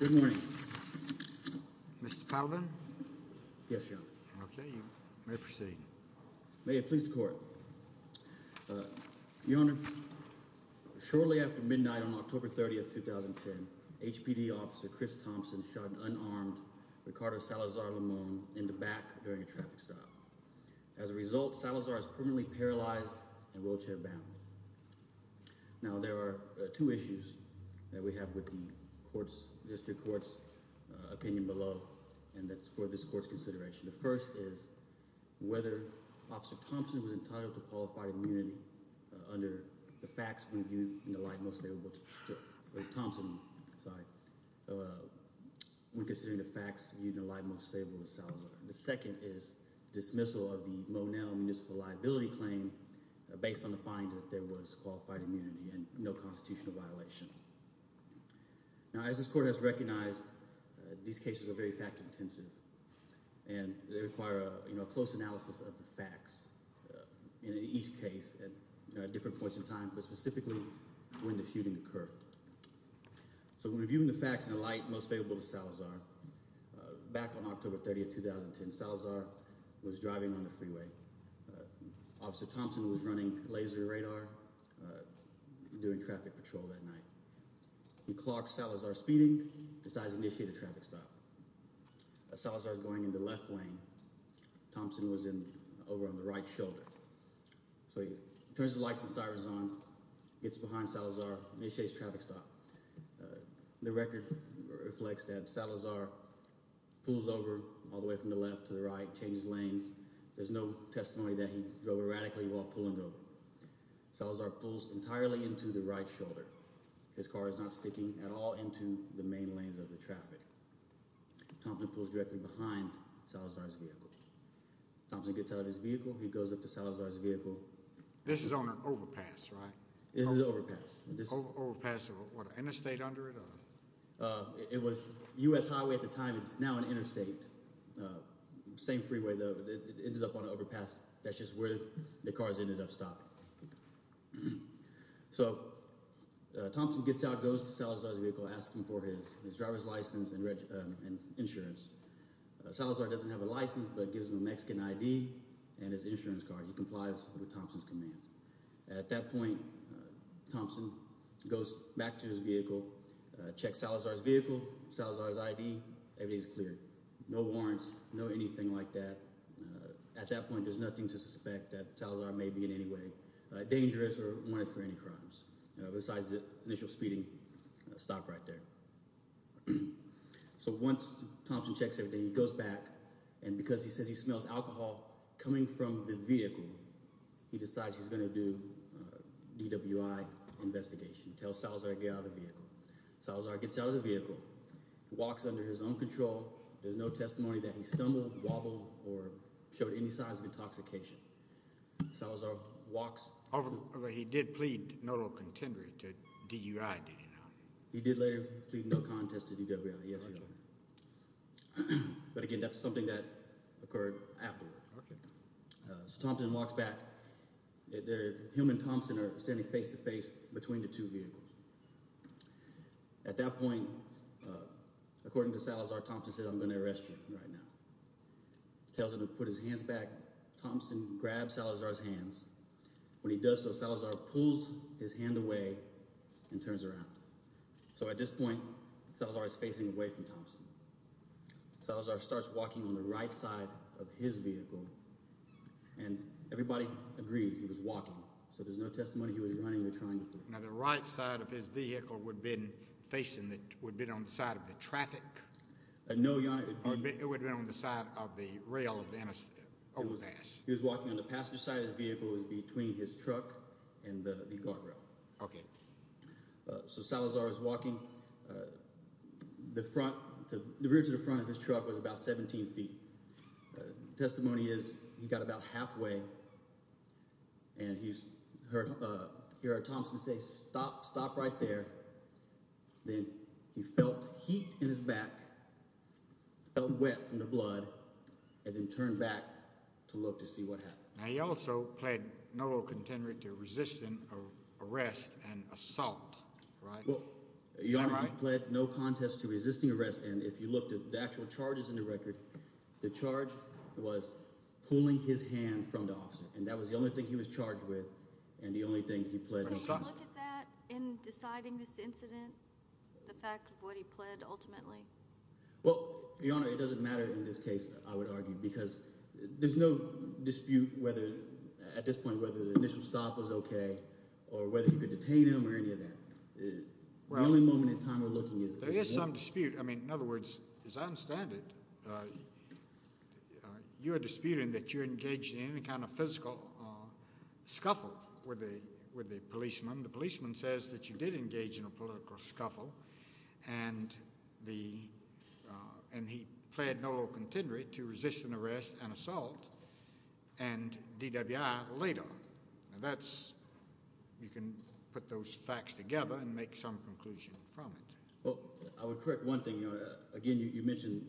Good morning, Mr. Palvin. Yes, Your Honor. Okay, you may proceed. May it please the court. Your Honor, shortly after midnight on October 30th, 2010, HPD officer Chris Thompson shot Ricardo Salazar-Limon in the back during a traffic stop. As a result, Salazar is permanently paralyzed and wheelchair bound. Now there are two issues that we have with the court's, district court's opinion below and that's for this court's consideration. The first is whether officer Thompson was entitled to qualified immunity under the facts when viewed in the light most favorable to Thompson, sorry, when considering the facts viewed in the light most favorable to Salazar. The second is dismissal of the Monel Municipal Liability Claim based on the finding that there was qualified immunity and no constitutional violation. Now as this court has recognized, these cases are very fact-intensive and they require a, you know, a close analysis of the facts in each case at different points in time but specifically when the shooting occurred. So when reviewing the facts in the light most favorable to Salazar, back on October 30th, 2010, Salazar was driving on the freeway. Officer Thompson was running laser radar doing traffic patrol that night. He clocked Salazar speeding, decides to initiate a traffic stop. Salazar's going into left lane. Thompson was in, over on the right shoulder. So he turns the lights and sirens on, gets behind Salazar, initiates traffic stop. The record reflects that Salazar pulls over all the way from the left to the right, changes lanes. There's no testimony that he drove erratically while pulling over. Salazar pulls entirely into the right shoulder. His car is not sticking at all into the main lanes of the traffic. Thompson pulls directly behind Salazar's vehicle. Thompson gets out of his vehicle. He goes up to Salazar's vehicle. This is on an overpass, right? This is an overpass. Overpass, what, interstate under it? It was U.S. Highway at the time. It's now an interstate. Same freeway, though. It ends up on an overpass. That's just where the cars ended up stopping. So Thompson gets out, goes to Salazar's vehicle, asks him for his driver's license and insurance. Salazar doesn't have a license, but gives him a Mexican ID and his insurance card. He complies with Thompson's command. At that point, Thompson goes back to his vehicle, checks Salazar's vehicle, Salazar's ID. Everything's clear. No warrants, no anything like that. At that point, there's nothing to suspect that Salazar may be in any way dangerous or wanted for any crimes, besides the initial speeding stop right there. So once Thompson checks everything, he goes back and because he says he smells alcohol coming from the vehicle, he decides he's going to do a DWI investigation, tell Salazar to get out of the vehicle. Salazar gets out of the vehicle, walks under his own control. There's no testimony that he stumbled, wobbled, or showed any signs of intoxication. Salazar walks over. He did plead no contender to DWI, did he not? He did later plead no contest to DWI, yes, Your Honor. But again, that's something that occurred afterward. So Thompson walks back. Him and Thompson are standing face to face between the two vehicles. At that point, according to Salazar, Thompson said, I'm going to arrest you right now. Tells him to put his hands back. Thompson grabs Salazar's hands. When he does so, Salazar pulls his hand away and turns around. So at this point, Salazar is facing away from Thompson. Salazar starts walking on the right side of his vehicle, and everybody agrees he was walking, so there's no testimony he was running or trying to flee. Now the right side of his vehicle would have been facing, would have been on the side of the traffic? No, Your Honor. It would have been on the side of the rail of the overpass. He was walking on the passenger side of his vehicle. It the rear to the front of his truck was about 17 feet. Testimony is he got about halfway, and he heard Thompson say, stop, stop right there. Then he felt heat in his back, felt wet from the blood, and then turned back to look to see what happened. Now he also pled no contender to resisting arrest and assault, right? Your Honor, he pled no contest to resisting arrest, and if you looked at the actual charges in the record, the charge was pulling his hand from the officer, and that was the only thing he was charged with, and the only thing he pled. Would you look at that in deciding this incident, the fact of what he pled ultimately? Well, Your Honor, it doesn't matter in this case, I would argue, because there's no dispute whether, at this point, whether the initial stop was okay or whether you could detain him or any of that. The only moment in time we're looking is... There is some dispute. I mean, in other words, as I understand it, you're disputing that you're engaged in any kind of physical scuffle with the policeman. The policeman says that you did engage in a political scuffle, and he pled no contender to resisting arrest and assault, and DWI laid off. Now that's, you can put those facts together and make some conclusion from it. Well, I would correct one thing, Your Honor. Again, you mentioned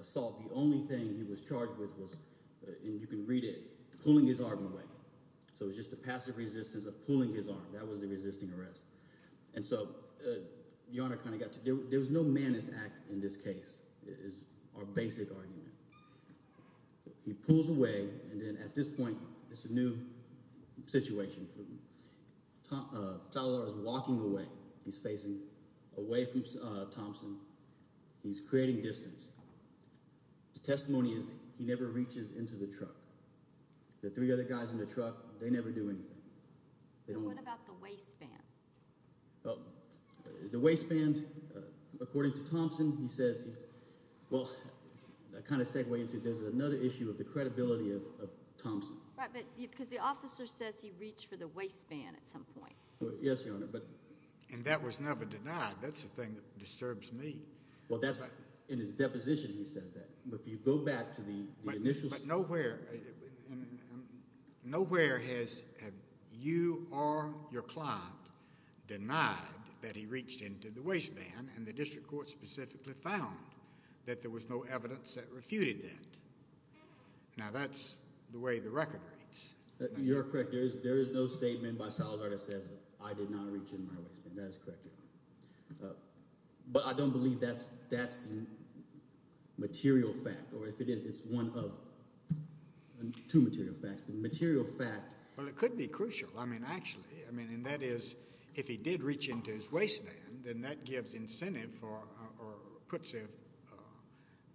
assault. The only thing he was charged with was, and you can read it, pulling his arm away. So it was just a passive resistance of pulling his arm. That was the resisting arrest, and so Your Honor kind of got to... There was no manners act in this case, is our basic argument. He pulls away, and then at this point, it's a new situation. Talalar is walking away. He's facing away from Thompson. He's creating distance. The testimony is he never reaches into the truck. The three other guys in the truck, they never do anything. What about the waistband? Well, the waistband, according to Thompson, he says, well, I kind of segue into, there's another issue of the credibility of Thompson. Right, but because the officer says he reached for the waistband at some point. Yes, Your Honor, but... And that was never denied. That's the thing that disturbs me. Well, that's in his deposition, he says that, but if you go back to the initial... But nowhere, nowhere has you or your client denied that he reached into the waistband, and the district court specifically found that there was no evidence that refuted that. Now, that's the way the record reads. You're correct. There is no statement by Talalar that says I did not reach in my waistband. That is correct, Your Honor, but I don't believe that's the material fact, or if it is, it's one of two material facts. The material fact... Well, it could be crucial. I mean, actually, I mean, and that is if he did reach into his waistband, then that gives incentive for, or puts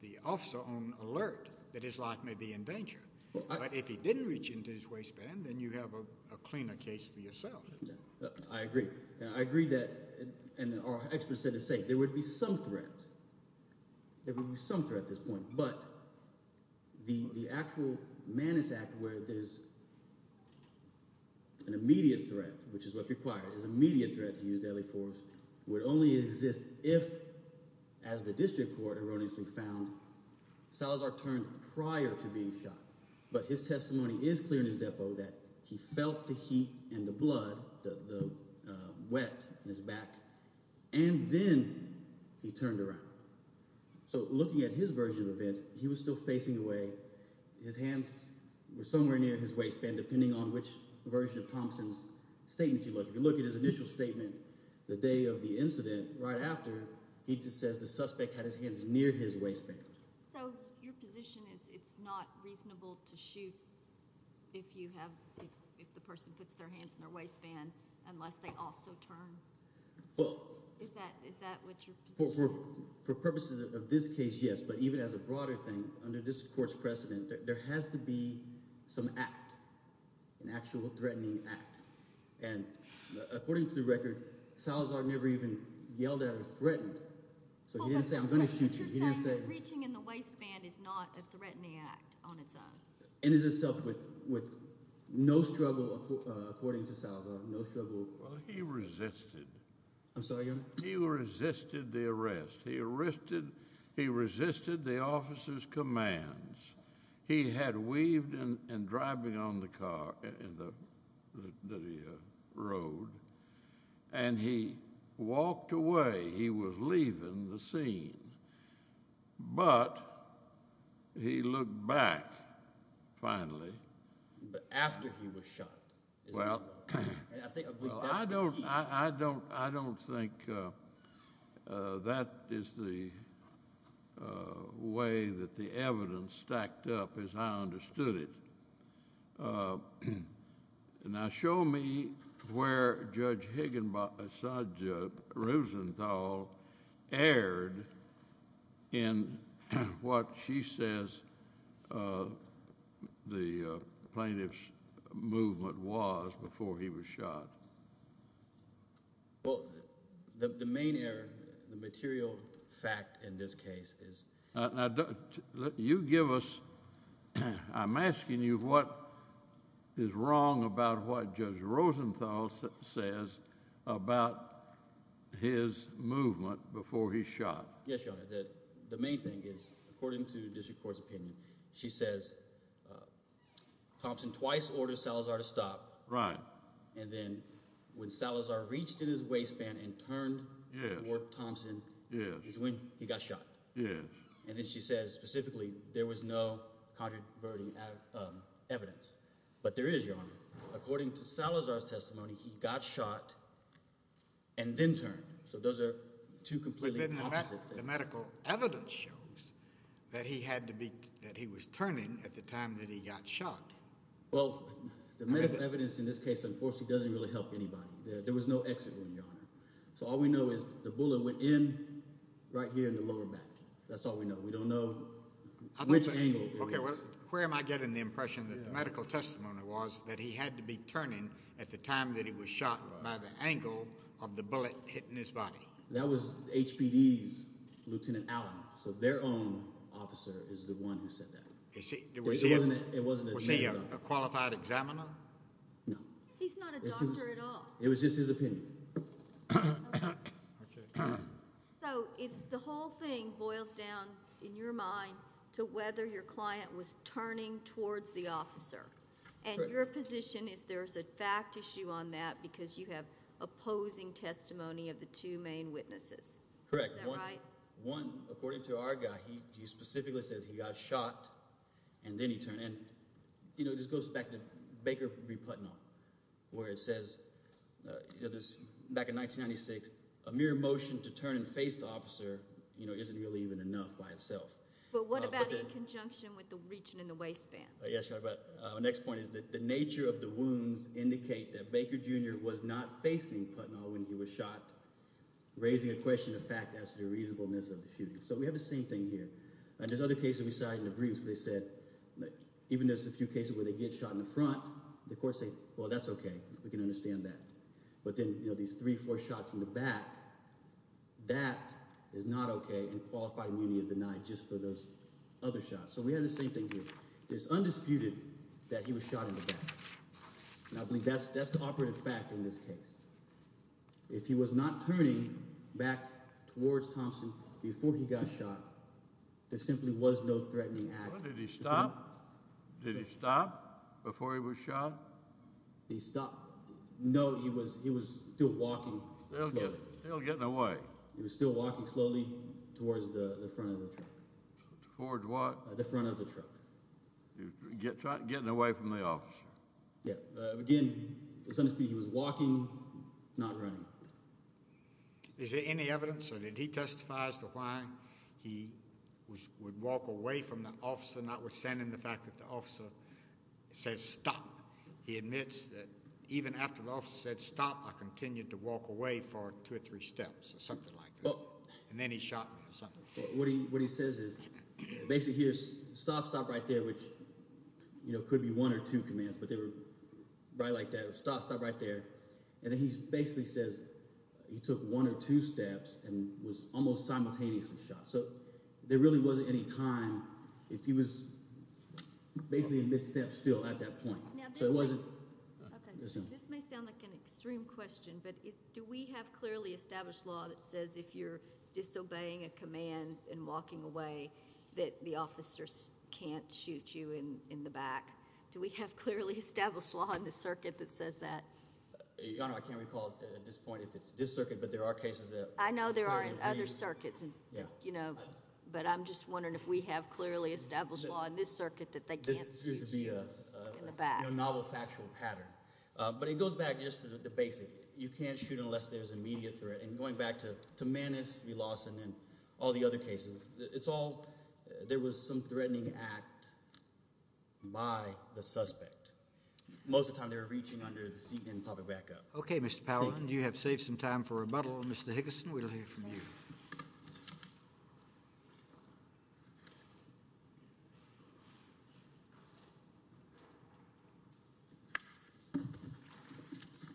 the officer on alert that his life may be in danger, but if he didn't reach into his waistband, then you have a cleaner case for yourself. I agree. I agree that, and our experts said the same, there would be some threat. There would be some threat at this point, but the actual Mannis Act, where there's an immediate threat, which is what's required, is an immediate threat to use deadly force, would only exist if, as the district court erroneously found, Salazar turned prior to being shot, but his testimony is clear in his depo that he felt the heat and the blood, the wet in his back, and then he turned around. So, looking at his version of events, he was still facing away. His hands were somewhere near his waistband, depending on which version of Thompson's statement, the day of the incident, right after, he just says the suspect had his hands near his waistband. So, your position is it's not reasonable to shoot if you have, if the person puts their hands in their waistband, unless they also turn. Is that what your position is? For purposes of this case, yes, but even as a broader thing, under this court's precedent, there has to be some act, an actual threatening act, and according to the record, Salazar never even yelled at or threatened, so he didn't say I'm going to shoot you. He didn't say reaching in the waistband is not a threatening act on its own, and is itself with no struggle, according to Salazar, no struggle. Well, he resisted. I'm sorry? He resisted the arrest. He arrested, he resisted the officer's commands. He had weaved and driving on the car, in the road, and he walked away. He was leaving the scene, but he looked back, finally. But after he was shot. Well, I don't, I don't, I don't think that is the way that the evidence stacked up as I understood it. Now, show me where Judge Higginbotham, Judge Rosenthal erred in what she says the plaintiff's movement was before he was shot. Well, the main error, the material fact in this case is. Now, you give us, I'm asking you what is wrong about what Judge Rosenthal says about his movement before he's shot. Yes, Your Honor, the main thing is, according to when Salazar reached in his waistband and turned toward Thompson is when he got shot. And then she says, specifically, there was no controversial evidence. But there is, Your Honor, according to Salazar's testimony, he got shot and then turned. So those are two completely opposite things. But then the medical evidence shows that he had to be, that he was turning at the time that he got shot. Well, the medical evidence in this case, unfortunately, doesn't really help anybody. There was no exit, Your Honor. So all we know is the bullet went in right here in the lower back. That's all we know. We don't know which angle. Okay, well, where am I getting the impression that the medical testimony was that he had to be turning at the time that he was shot by the angle of the bullet hitting his body? That was HPD's Lieutenant Allen. So their own officer is the one who said that it wasn't a qualified examiner. He's not a doctor at all. It was just his opinion. So it's the whole thing boils down in your mind to whether your client was turning towards the officer and your position is there's a fact issue on that because you have opposing testimony of two main witnesses. Correct. One, according to our guy, he specifically says he got shot and then he turned and, you know, this goes back to Baker v. Putnam where it says, you know, this back in 1996, a mere motion to turn and face the officer, you know, isn't really even enough by itself. But what about in conjunction with the reaching in the waistband? Yes, Your Honor, but our next point is that the nature of the wounds indicate that Baker Jr. was not facing Putnam when he was shot, raising a question of fact as to the reasonableness of the shooting. So we have the same thing here. And there's other cases we saw in the briefs where they said, even there's a few cases where they get shot in the front, the court say, well, that's okay. We can understand that. But then, you know, these three, four shots in the back, that is not okay and qualified immunity is denied just for those other shots. So we have the same thing here. It's undisputed that he was fact in this case. If he was not turning back towards Thompson before he got shot, there simply was no threatening act. Did he stop? Did he stop before he was shot? He stopped. No, he was, he was still walking. Still getting away. He was still walking slowly towards the front of the truck. Towards what? The front of the truck. Getting away from the officer. Yeah, again, it's understood he was walking, not running. Is there any evidence or did he testifies to why he would walk away from the officer, notwithstanding the fact that the officer says stop. He admits that even after the officer said stop, I continued to walk away for two or three steps or something like that. And then he shot me or something. What he, what he says is basically here's stop, stop right there, which, you know, could be one or two commands, but they were right like that. Stop, stop right there. And then he basically says he took one or two steps and was almost simultaneously shot. So there really wasn't any time if he was basically in mid-step still at that point. So it wasn't. Okay, this may sound like an extreme question, but do we have clearly established law that says if you're disobeying a command and walking away that the officers can't shoot you in the back? Do we have clearly established law in the circuit that says that? Your Honor, I can't recall at this point if it's this circuit, but there are cases that... I know there are in other circuits and, you know, but I'm just wondering if we have clearly established law in this circuit that they can't shoot you in the back. This appears to be a novel factual pattern, but it goes back just to the basic. You can't shoot unless there's immediate threat. And going back to Manus v. Lawson and all the other cases, it's all... there was some threatening act by the suspect. Most of the time they were reaching under the seat and popping back up. Okay, Mr. Powell, you have saved some time for rebuttal. Mr. Higgison, we'll hear from you.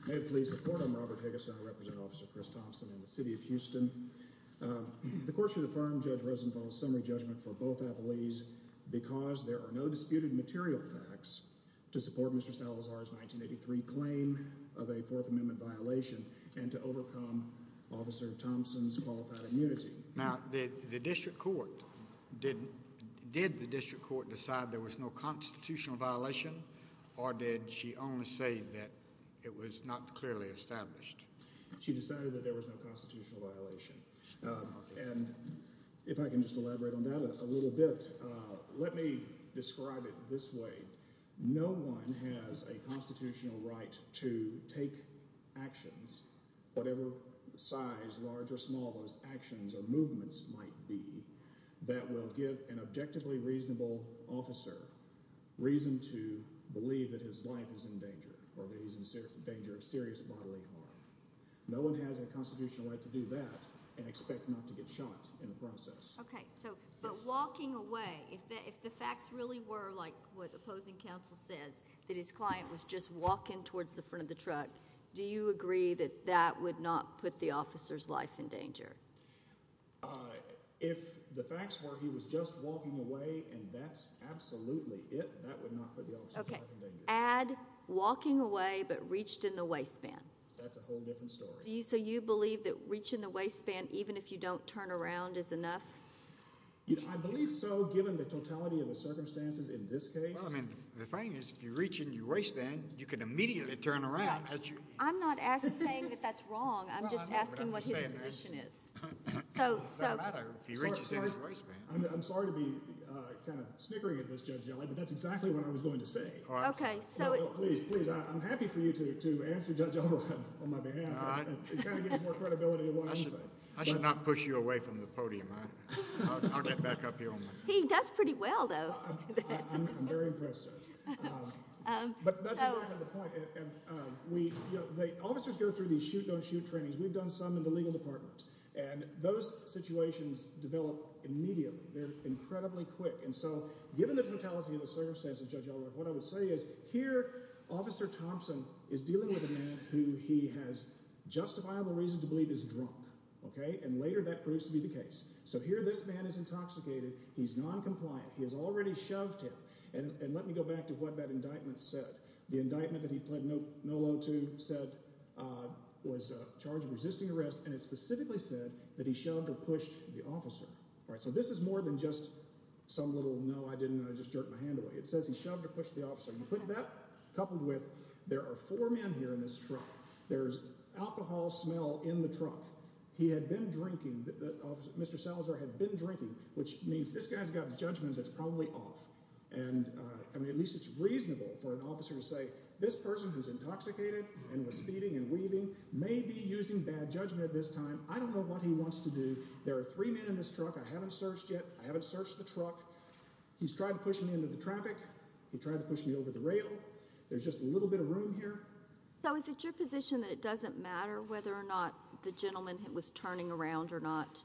May it please the Court, I'm Robert Higgison. I represent Officer Chris Thompson in the City of Houston. The Court should affirm Judge Rosenthal's summary judgment for both appellees because there are no disputed material facts to support Mr. Salazar's 1983 claim of a Fourth Amendment violation and to overcome Officer Thompson's qualified immunity. Now, did the District Court decide there was no constitutional violation or did she only say that it was not clearly established? She decided that there was no constitutional violation. And if I can just elaborate on that a little bit, let me describe it this way. No one has a constitutional right to take actions, whatever size, large or movements might be, that will give an objectively reasonable officer reason to believe that his life is in danger or that he's in danger of serious bodily harm. No one has a constitutional right to do that and expect not to get shot in the process. Okay, so but walking away, if the facts really were like what opposing counsel says, that his client was just walking towards the front of the vehicle, would you believe that that would not put the officer's life in danger? If the facts were he was just walking away and that's absolutely it, that would not put the officer's life in danger. Okay, add walking away but reached in the waistband. That's a whole different story. Do you, so you believe that reaching the waistband even if you don't turn around is enough? I believe so given the totality of the circumstances in this case. Well, I mean, the thing is if you reach in your waistband, you can immediately turn around. I'm not asking that that's wrong. I'm just asking what his position is. So I'm sorry to be uh kind of snickering at this judge but that's exactly what I was going to say. Okay, so please please I'm happy for you to to answer judge on my behalf. It kind of gives more credibility. I should not push you away from the podium. I'll get back up here. He does pretty well though. I'm very trained. We've done some in the legal department and those situations develop immediately. They're incredibly quick and so given the totality of the circumstances, judge, what I would say is here officer Thompson is dealing with a man who he has justifiable reason to believe is drunk. Okay, and later that proves to be the case. So here this man is intoxicated. He's non-compliant. He has already shoved him and let me go back to what that indictment said. The indictment that he pled no no to said uh was a charge of resisting arrest and it specifically said that he shoved or pushed the officer. All right, so this is more than just some little no I didn't I just jerked my hand away. It says he shoved or pushed the officer. You put that coupled with there are four men here in this truck. There's alcohol smell in the truck. He had been drinking. The officer Mr. Salazar had been drinking which means this guy's got a judgment that's probably off and uh I mean at least it's reasonable for an officer to say this person who's intoxicated and was speeding and weaving may be using bad judgment at this time. I don't know what he wants to do. There are three men in this truck. I haven't searched yet. I haven't searched the truck. He's tried to push me into the traffic. He tried to push me over the rail. There's just a little bit of room here. So is it your position that it doesn't matter whether or not the gentleman was turning around or not?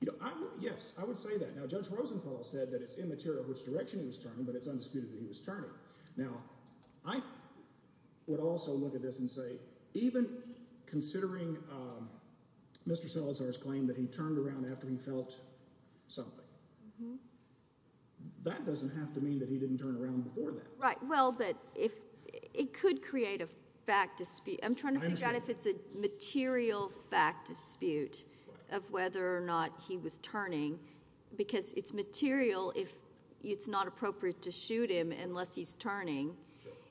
You know, I'm yes, I would say that now judge Rosenthal said that it's immaterial which direction he was turning but it's undisputed that he was turning. Now I would also look at this and say even considering um Mr. Salazar's claim that he turned around after he felt something. That doesn't have to mean that he didn't turn around before that. Right well but if it could create a fact dispute. I'm trying to figure out if it's a he was turning because it's material if it's not appropriate to shoot him unless he's turning.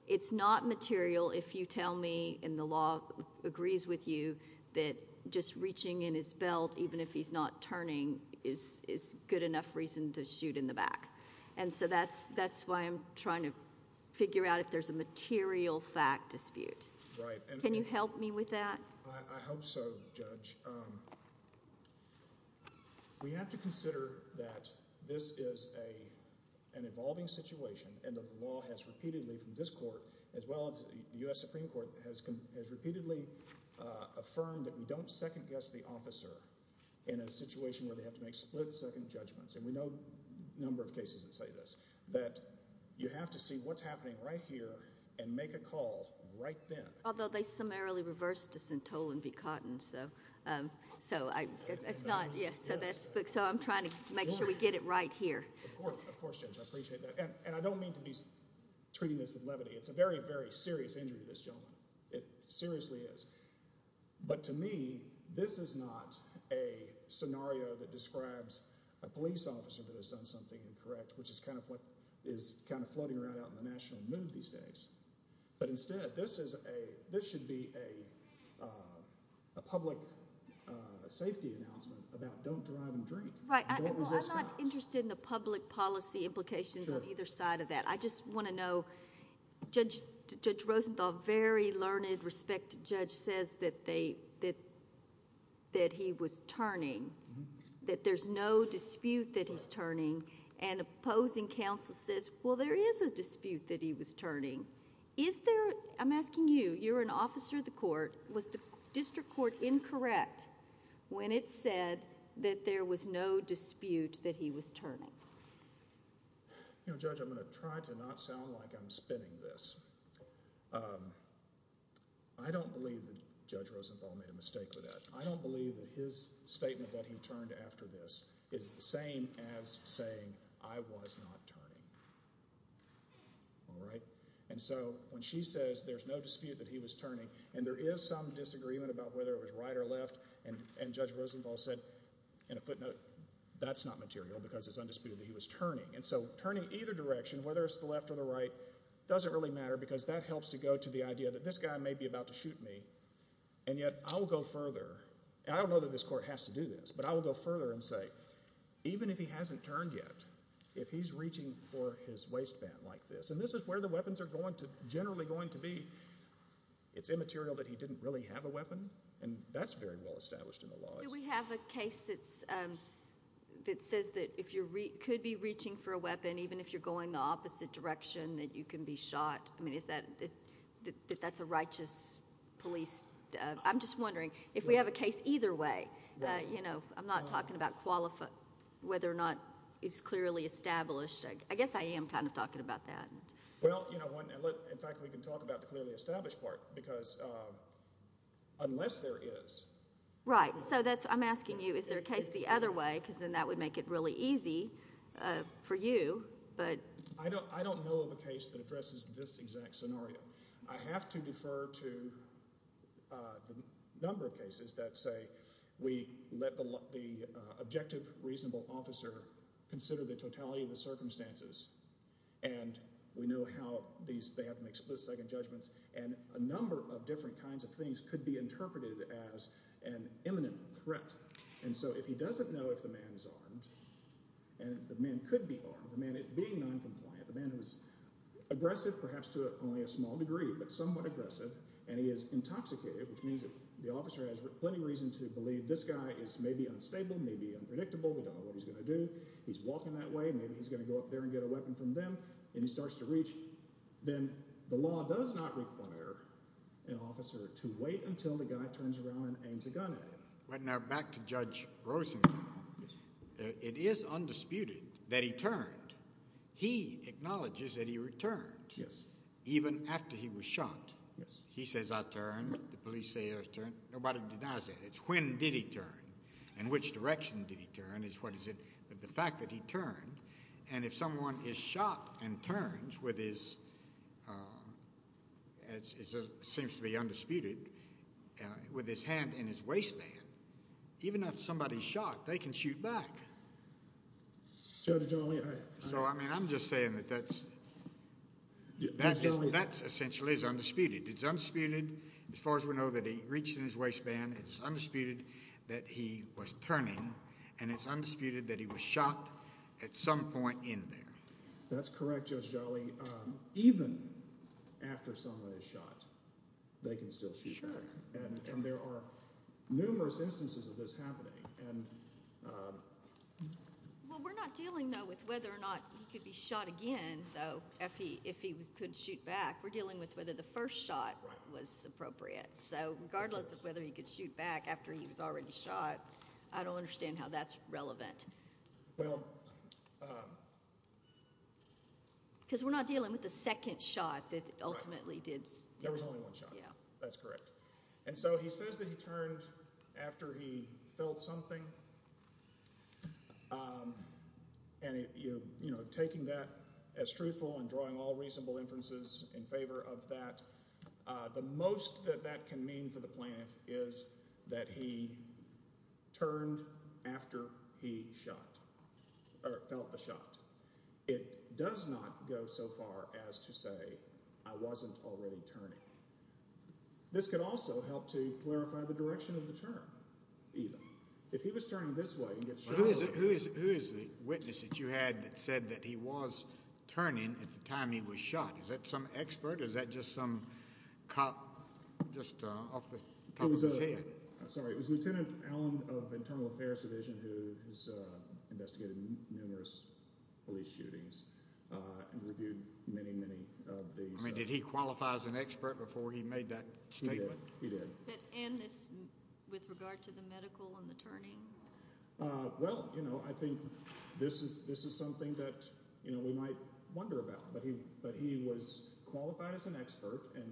It's not material if you tell me and the law agrees with you that just reaching in his belt even if he's not turning is is good enough reason to shoot in the back and so that's that's why I'm trying to figure out if there's a material fact dispute. Right. Can you help me with that? I hope so judge. We have to consider that this is a an evolving situation and that the law has repeatedly from this court as well as the U.S. Supreme Court has has repeatedly uh affirmed that we don't second guess the officer in a situation where they have to make split second judgments and we know number of cases that say this that you have to see what's happening right here and make a call right then. Although they summarily reversed us in Tolan v. Cotton so um so I it's not yeah so that's so I'm trying to make sure we get it right here. Of course of course judge I appreciate that and I don't mean to be treating this with levity. It's a very very serious injury to this gentleman. It seriously is but to me this is not a scenario that describes a police officer that has done something incorrect which is kind of what is kind of floating around out in the but instead this is a this should be a uh a public uh safety announcement about don't drive and drink. Right. I'm not interested in the public policy implications on either side of that. I just want to know judge judge Rosenthal very learned respected judge says that they that that he was turning that there's no dispute that he's turning and opposing counsel says well there is a dispute that he was turning. Is there I'm asking you you're an officer of the court was the district court incorrect when it said that there was no dispute that he was turning? You know judge I'm going to try to not sound like I'm spinning this. I don't believe that judge Rosenthal made a mistake with that. I don't believe that his statement that he turned after this is the same as saying I was not turning. All right and so when she says there's no dispute that he was turning and there is some disagreement about whether it was right or left and and judge Rosenthal said in a footnote that's not material because it's undisputed that he was turning and so turning either direction whether it's the left or the right doesn't really matter because that helps to go to the idea that this guy may be about to shoot me and yet I'll go further. I don't know whether this court has to do this but I will go further and say even if he hasn't turned yet if he's reaching for his waistband like this and this is where the weapons are going to generally going to be it's immaterial that he didn't really have a weapon and that's very well established in the law. Do we have a case that's um that says that if you could be reaching for a weapon even if you're going the opposite direction that you can be shot I mean is that is that that's a case either way you know I'm not talking about qualifying whether or not it's clearly established I guess I am kind of talking about that. Well you know one in fact we can talk about the clearly established part because um unless there is. Right so that's I'm asking you is there a case the other way because then that would make it really easy uh for you but. I don't I don't know of a case that addresses this exact scenario. I have to defer to uh the number of cases that say we let the the objective reasonable officer consider the totality of the circumstances and we know how these they have to make split second judgments and a number of different kinds of things could be interpreted as an imminent threat and so if he doesn't know if the man is being non-compliant the man who's aggressive perhaps to only a small degree but somewhat aggressive and he is intoxicated which means that the officer has plenty reason to believe this guy is maybe unstable maybe unpredictable we don't know what he's going to do he's walking that way maybe he's going to go up there and get a weapon from them and he starts to reach then the law does not require an officer to wait until the guy turns around and aims a gun at him. Right now back to Rosenthal it is undisputed that he turned he acknowledges that he returned yes even after he was shot yes he says I turned the police say I turned nobody denies that it's when did he turn in which direction did he turn is what is it but the fact that he turned and if someone is shot and turns with his uh as it seems to be undisputed with his hand in his waistband even if somebody's shot they can shoot back so I mean I'm just saying that that's that's essentially is undisputed it's undisputed as far as we know that he reached in his waistband it's undisputed that he was turning and it's undisputed that he was shot at some point in there that's correct Judge Jolly um even after someone is shot they can still shoot sure and there are numerous instances of this happening and um well we're not dealing though with whether or not he could be shot again though if he if he was could shoot back we're dealing with whether the first shot was appropriate so regardless of whether he could shoot back after he was already shot I don't understand how that's relevant well um because we're not dealing with the second shot that ultimately did there was only one shot yeah that's correct and so he says that he turned after he felt something um and you you know taking that as truthful and drawing all reasonable inferences in favor of that uh the most that that can mean for the plaintiff is that he turned after he shot or felt the shot it does not go so far as to say I wasn't already turning this could also help to clarify the direction of the turn even if he was turning this way and get who is the witness that you had that said that he was turning at the time he was shot is that some expert is that just some cop just uh off the top of his head sorry it was lieutenant allen of internal affairs division who has uh investigated numerous police shootings uh and reviewed many many of these I mean did he qualify as an expert before he made that statement he did that end this with regard to the medical and the turning uh well you know I think this is this is something that you know we might wonder about but he but he was qualified as an expert and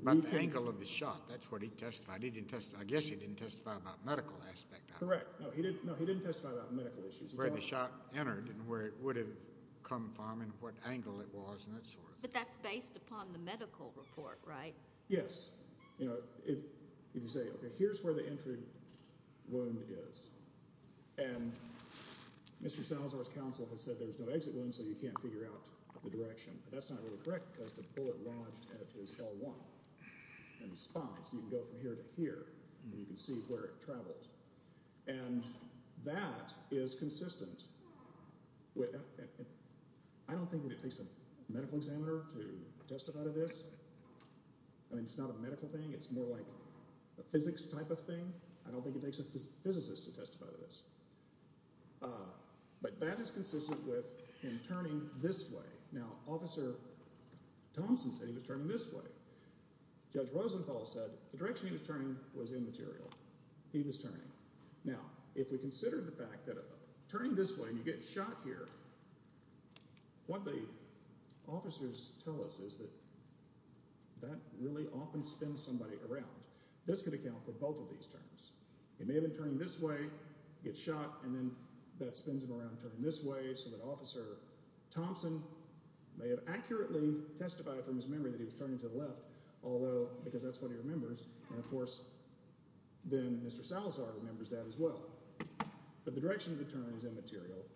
about the angle of the shot that's what he testified he didn't test I guess he didn't testify about medical aspect correct no he didn't know he didn't testify about medical issues where the shot entered and where it would have come from and what angle it was and that sort of but that's upon the medical report right yes you know if you say okay here's where the entry wound is and mr salazar's counsel has said there's no exit wound so you can't figure out the direction but that's not really correct because the bullet lodged at his l1 and spine so you can go from here to here and you can see where it travels and that is consistent with I don't think that it takes a testify to this I mean it's not a medical thing it's more like a physics type of thing I don't think it takes a physicist to testify to this but that is consistent with him turning this way now officer thompson said he was turning this way judge rosenthal said the direction he was turning was immaterial he was turning now if we consider the fact that turning this way and you get shot here what the officers tell us is that that really often spins somebody around this could account for both of these terms it may have been turning this way get shot and then that spins him around turning this way so that officer thompson may have accurately testified from his memory that he was turning to the left although because that's what he remembers and of course then mr salazar remembers that as well but the direction of the turn is immaterial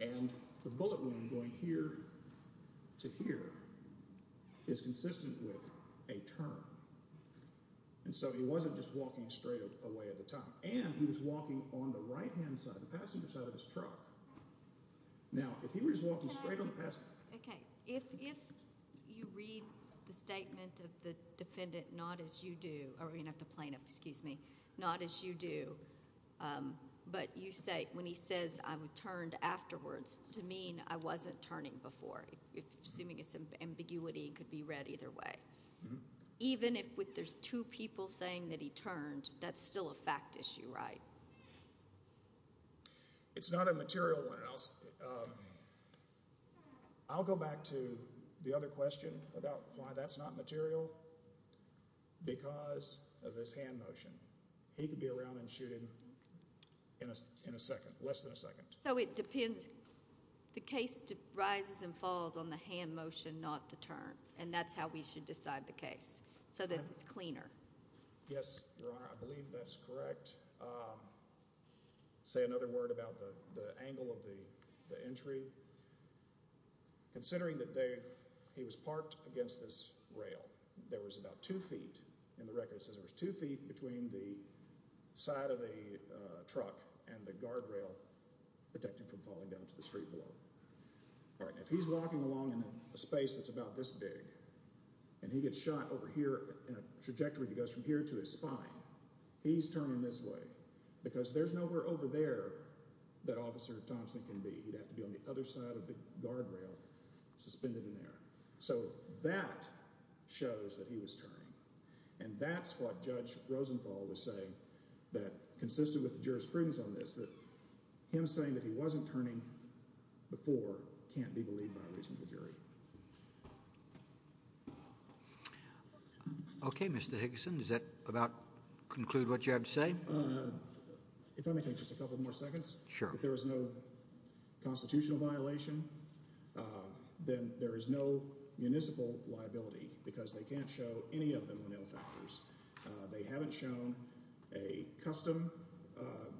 and the bullet wound going here to here is consistent with a turn and so he wasn't just walking straight away at the time and he was walking on the right hand side of the passenger side of his truck now if he was walking straight on the past okay if if you read the statement of the defendant not as you do or you have to plaintiff excuse me not as you do um but you say when he says i was turned afterwards to mean i wasn't turning before if assuming it's an ambiguity it could be read either way even if with there's two people saying that he turned that's still a fact issue right it's not a material one and i'll um i'll go back to the other question about why that's not material because of this hand motion he could be around and shooting in a in a second less than a second so it depends the case rises and falls on the hand motion not the turn and that's how we should decide the case so that it's cleaner yes your honor i believe that is correct um say another word about the the angle of the the entry considering that they he was parked against this rail there was about two feet in the record it says there was two feet between the side of the uh truck and the guardrail protecting from falling down to the street below all right if he's walking along in a space that's about this big and he gets shot over here in a trajectory that goes from here to his spine he's turning this way because there's nowhere over there that officer thompson can be he'd have to be on the other side of the guardrail suspended in there so that shows that he was turning and that's what judge rosenthal was saying that consisted with the jurisprudence on this that him saying that he wasn't turning before can't be believed by a reasonable jury okay mr hickson does that about conclude what you have to say uh if i may take just a couple more seconds sure if there was no constitutional violation then there is no municipal liability because they can't show any of the monel factors they haven't shown a custom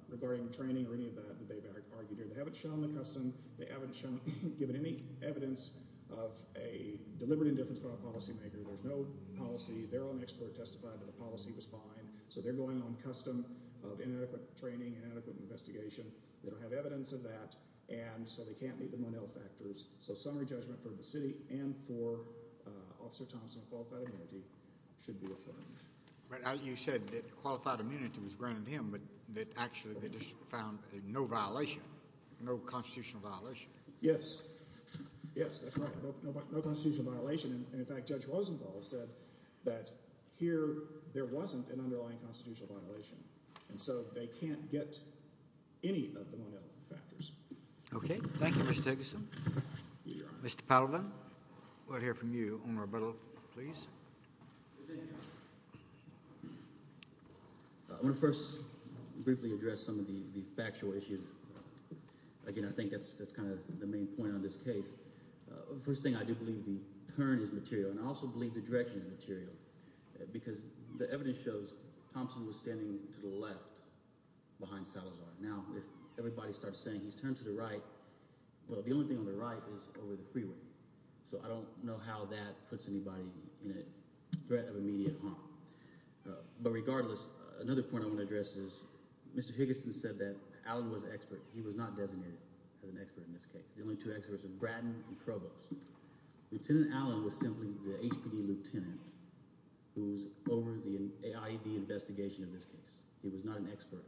regarding training or any of that that they've argued here they haven't shown the custom they haven't shown given any evidence of a deliberate indifference by a policymaker there's no policy their own expert testified that the policy was fine so they're going on custom of inadequate training and adequate investigation they don't have evidence of that and so they can't meet the monel factors so summary judgment for the city and for uh officer thompson qualified immunity should be affirmed but as you said that qualified immunity was granted him but that actually the district found no violation no constitutional violation yes yes that's right no constitutional violation and in fact judge rosenthal said that here there wasn't an underlying constitutional violation and so they can't get any of the monel factors okay thank you mr hickson mr palvin we'll hear from you on rebuttal please i want to first briefly address some of the the factual issues again i think that's that's kind of the main point on this case uh first thing i do believe the turn is material and i also believe the direction of material because the evidence shows thompson was standing to the left behind salazar now if everybody starts saying he's turned to the right well the only thing on the right is over the freeway so i don't know how that puts anybody in a threat of immediate harm but regardless another point i want to address is mr higginson said that allen was expert he was not designated as an expert in this case the only two experts are braddon and provost lieutenant allen was simply the hpd lieutenant who's over the aid investigation of this case he was not an expert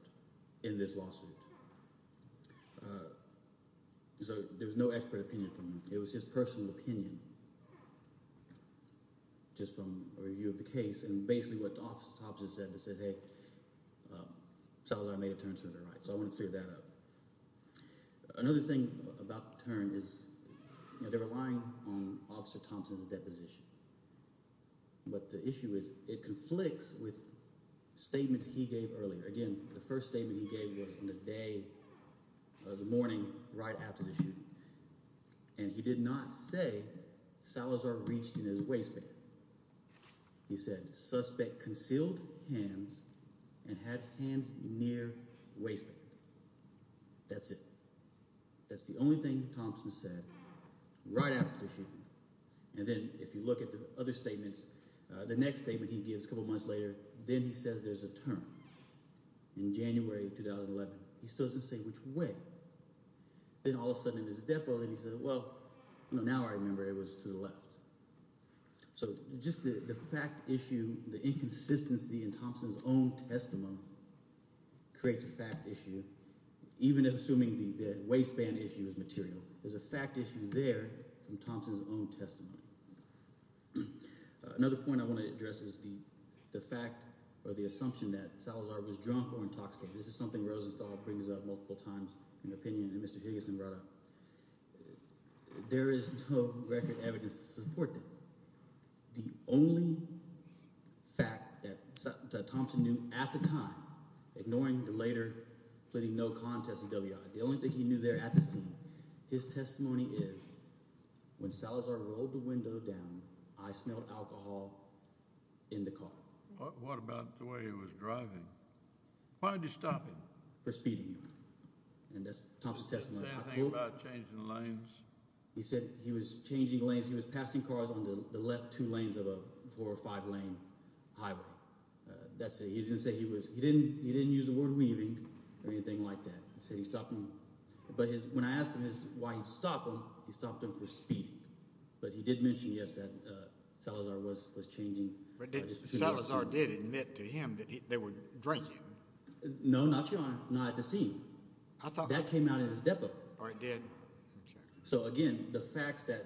in this lawsuit uh so there was no expert opinion from him it was his personal opinion just from a review of the case and basically what the officer said that said hey salazar made a turn to the right so i want to clear that up another thing about the turn is they're relying on officer thompson's deposition but the issue is it conflicts with statements he gave earlier again the first statement he gave was in the day of the morning right after the shooting and he did not say salazar reached in his waistband he said suspect concealed hands and had hands near waistband that's it that's the only thing thompson said right after the shooting and then if you look at the other statements uh the next statement he gives a couple months later then he says there's a turn in january 2011 he still doesn't say which way then all of a sudden in his death row then he said well you know now i remember it was to the left so just the the fact issue the inconsistency in thompson's own testimony creates a fact issue even assuming the the waistband issue is material there's a fact issue there from thompson's own testimony another point i want to address is the the fact or the assumption that salazar was drunk or intoxicated this is something rosenthal brings up multiple times in opinion and mr higginson brought up there is no record evidence to support that the only fact that thompson knew at the time ignoring the later pleading no contest ewi the only thing he knew there at the scene his testimony is when salazar rolled the window down i smelled alcohol in the car what about the way he was driving why did you stop him for speeding and that's thompson testimony about changing lanes he said he was changing lanes he was passing cars on the left two lanes of a four or five lane highway uh that's it he didn't say he was he didn't he didn't use the word weaving or anything like that he said he stopped him but his when i asked him his why he stopped him he stopped him for speed but he did mention yes that uh salazar was was changing but salazar did admit to him that they were drinking no not your honor not at the i thought that came out in his depot i did so again the facts that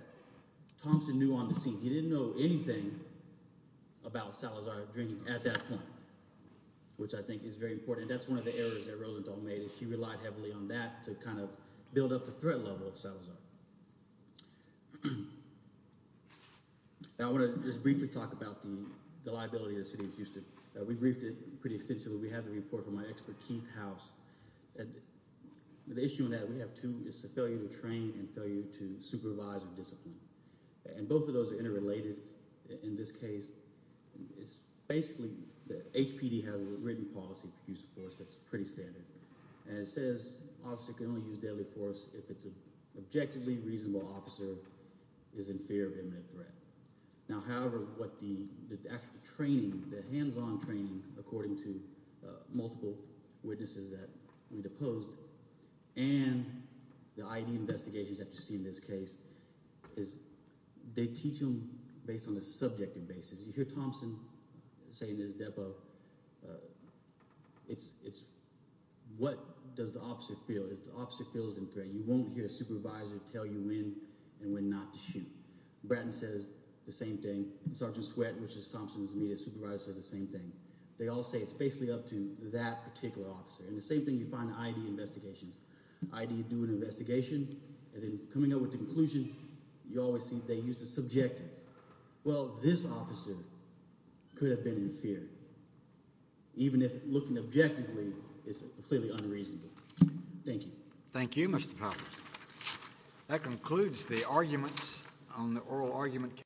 thompson knew on the scene he didn't know anything about salazar drinking at that point which i think is very important that's one of the errors that rosenthal made is she relied heavily on that to kind of build up the threat level of salazar i want to just briefly talk about the liability of the city of houston we briefed it pretty extensively we have the report from my expert keith house and the issue on that we have two is the failure to train and failure to supervise or discipline and both of those are interrelated in this case it's basically the hpd has a written policy for use of force that's pretty standard and it says officer can only use deadly force if it's an objectively reasonable officer is in fear of imminent threat now however what the the actual training the hands-on training according to multiple witnesses that we deposed and the id investigations that you see in this case is they teach them based on the subjective basis you hear thompson saying this depo it's it's what does the officer feel if the officer feels in threat you won't hear a supervisor tell you when and when not to shoot bratton says the same thing sergeant sweat which is thompson's media supervisor says the same thing they all say it's basically up to that particular officer and the same thing you find id investigations id do an investigation and then coming up with the conclusion you always see they use the subjective well this officer could have been in fear even if looking objectively is clearly unreasonable thank you thank you mr poplar that concludes the arguments on the oral argument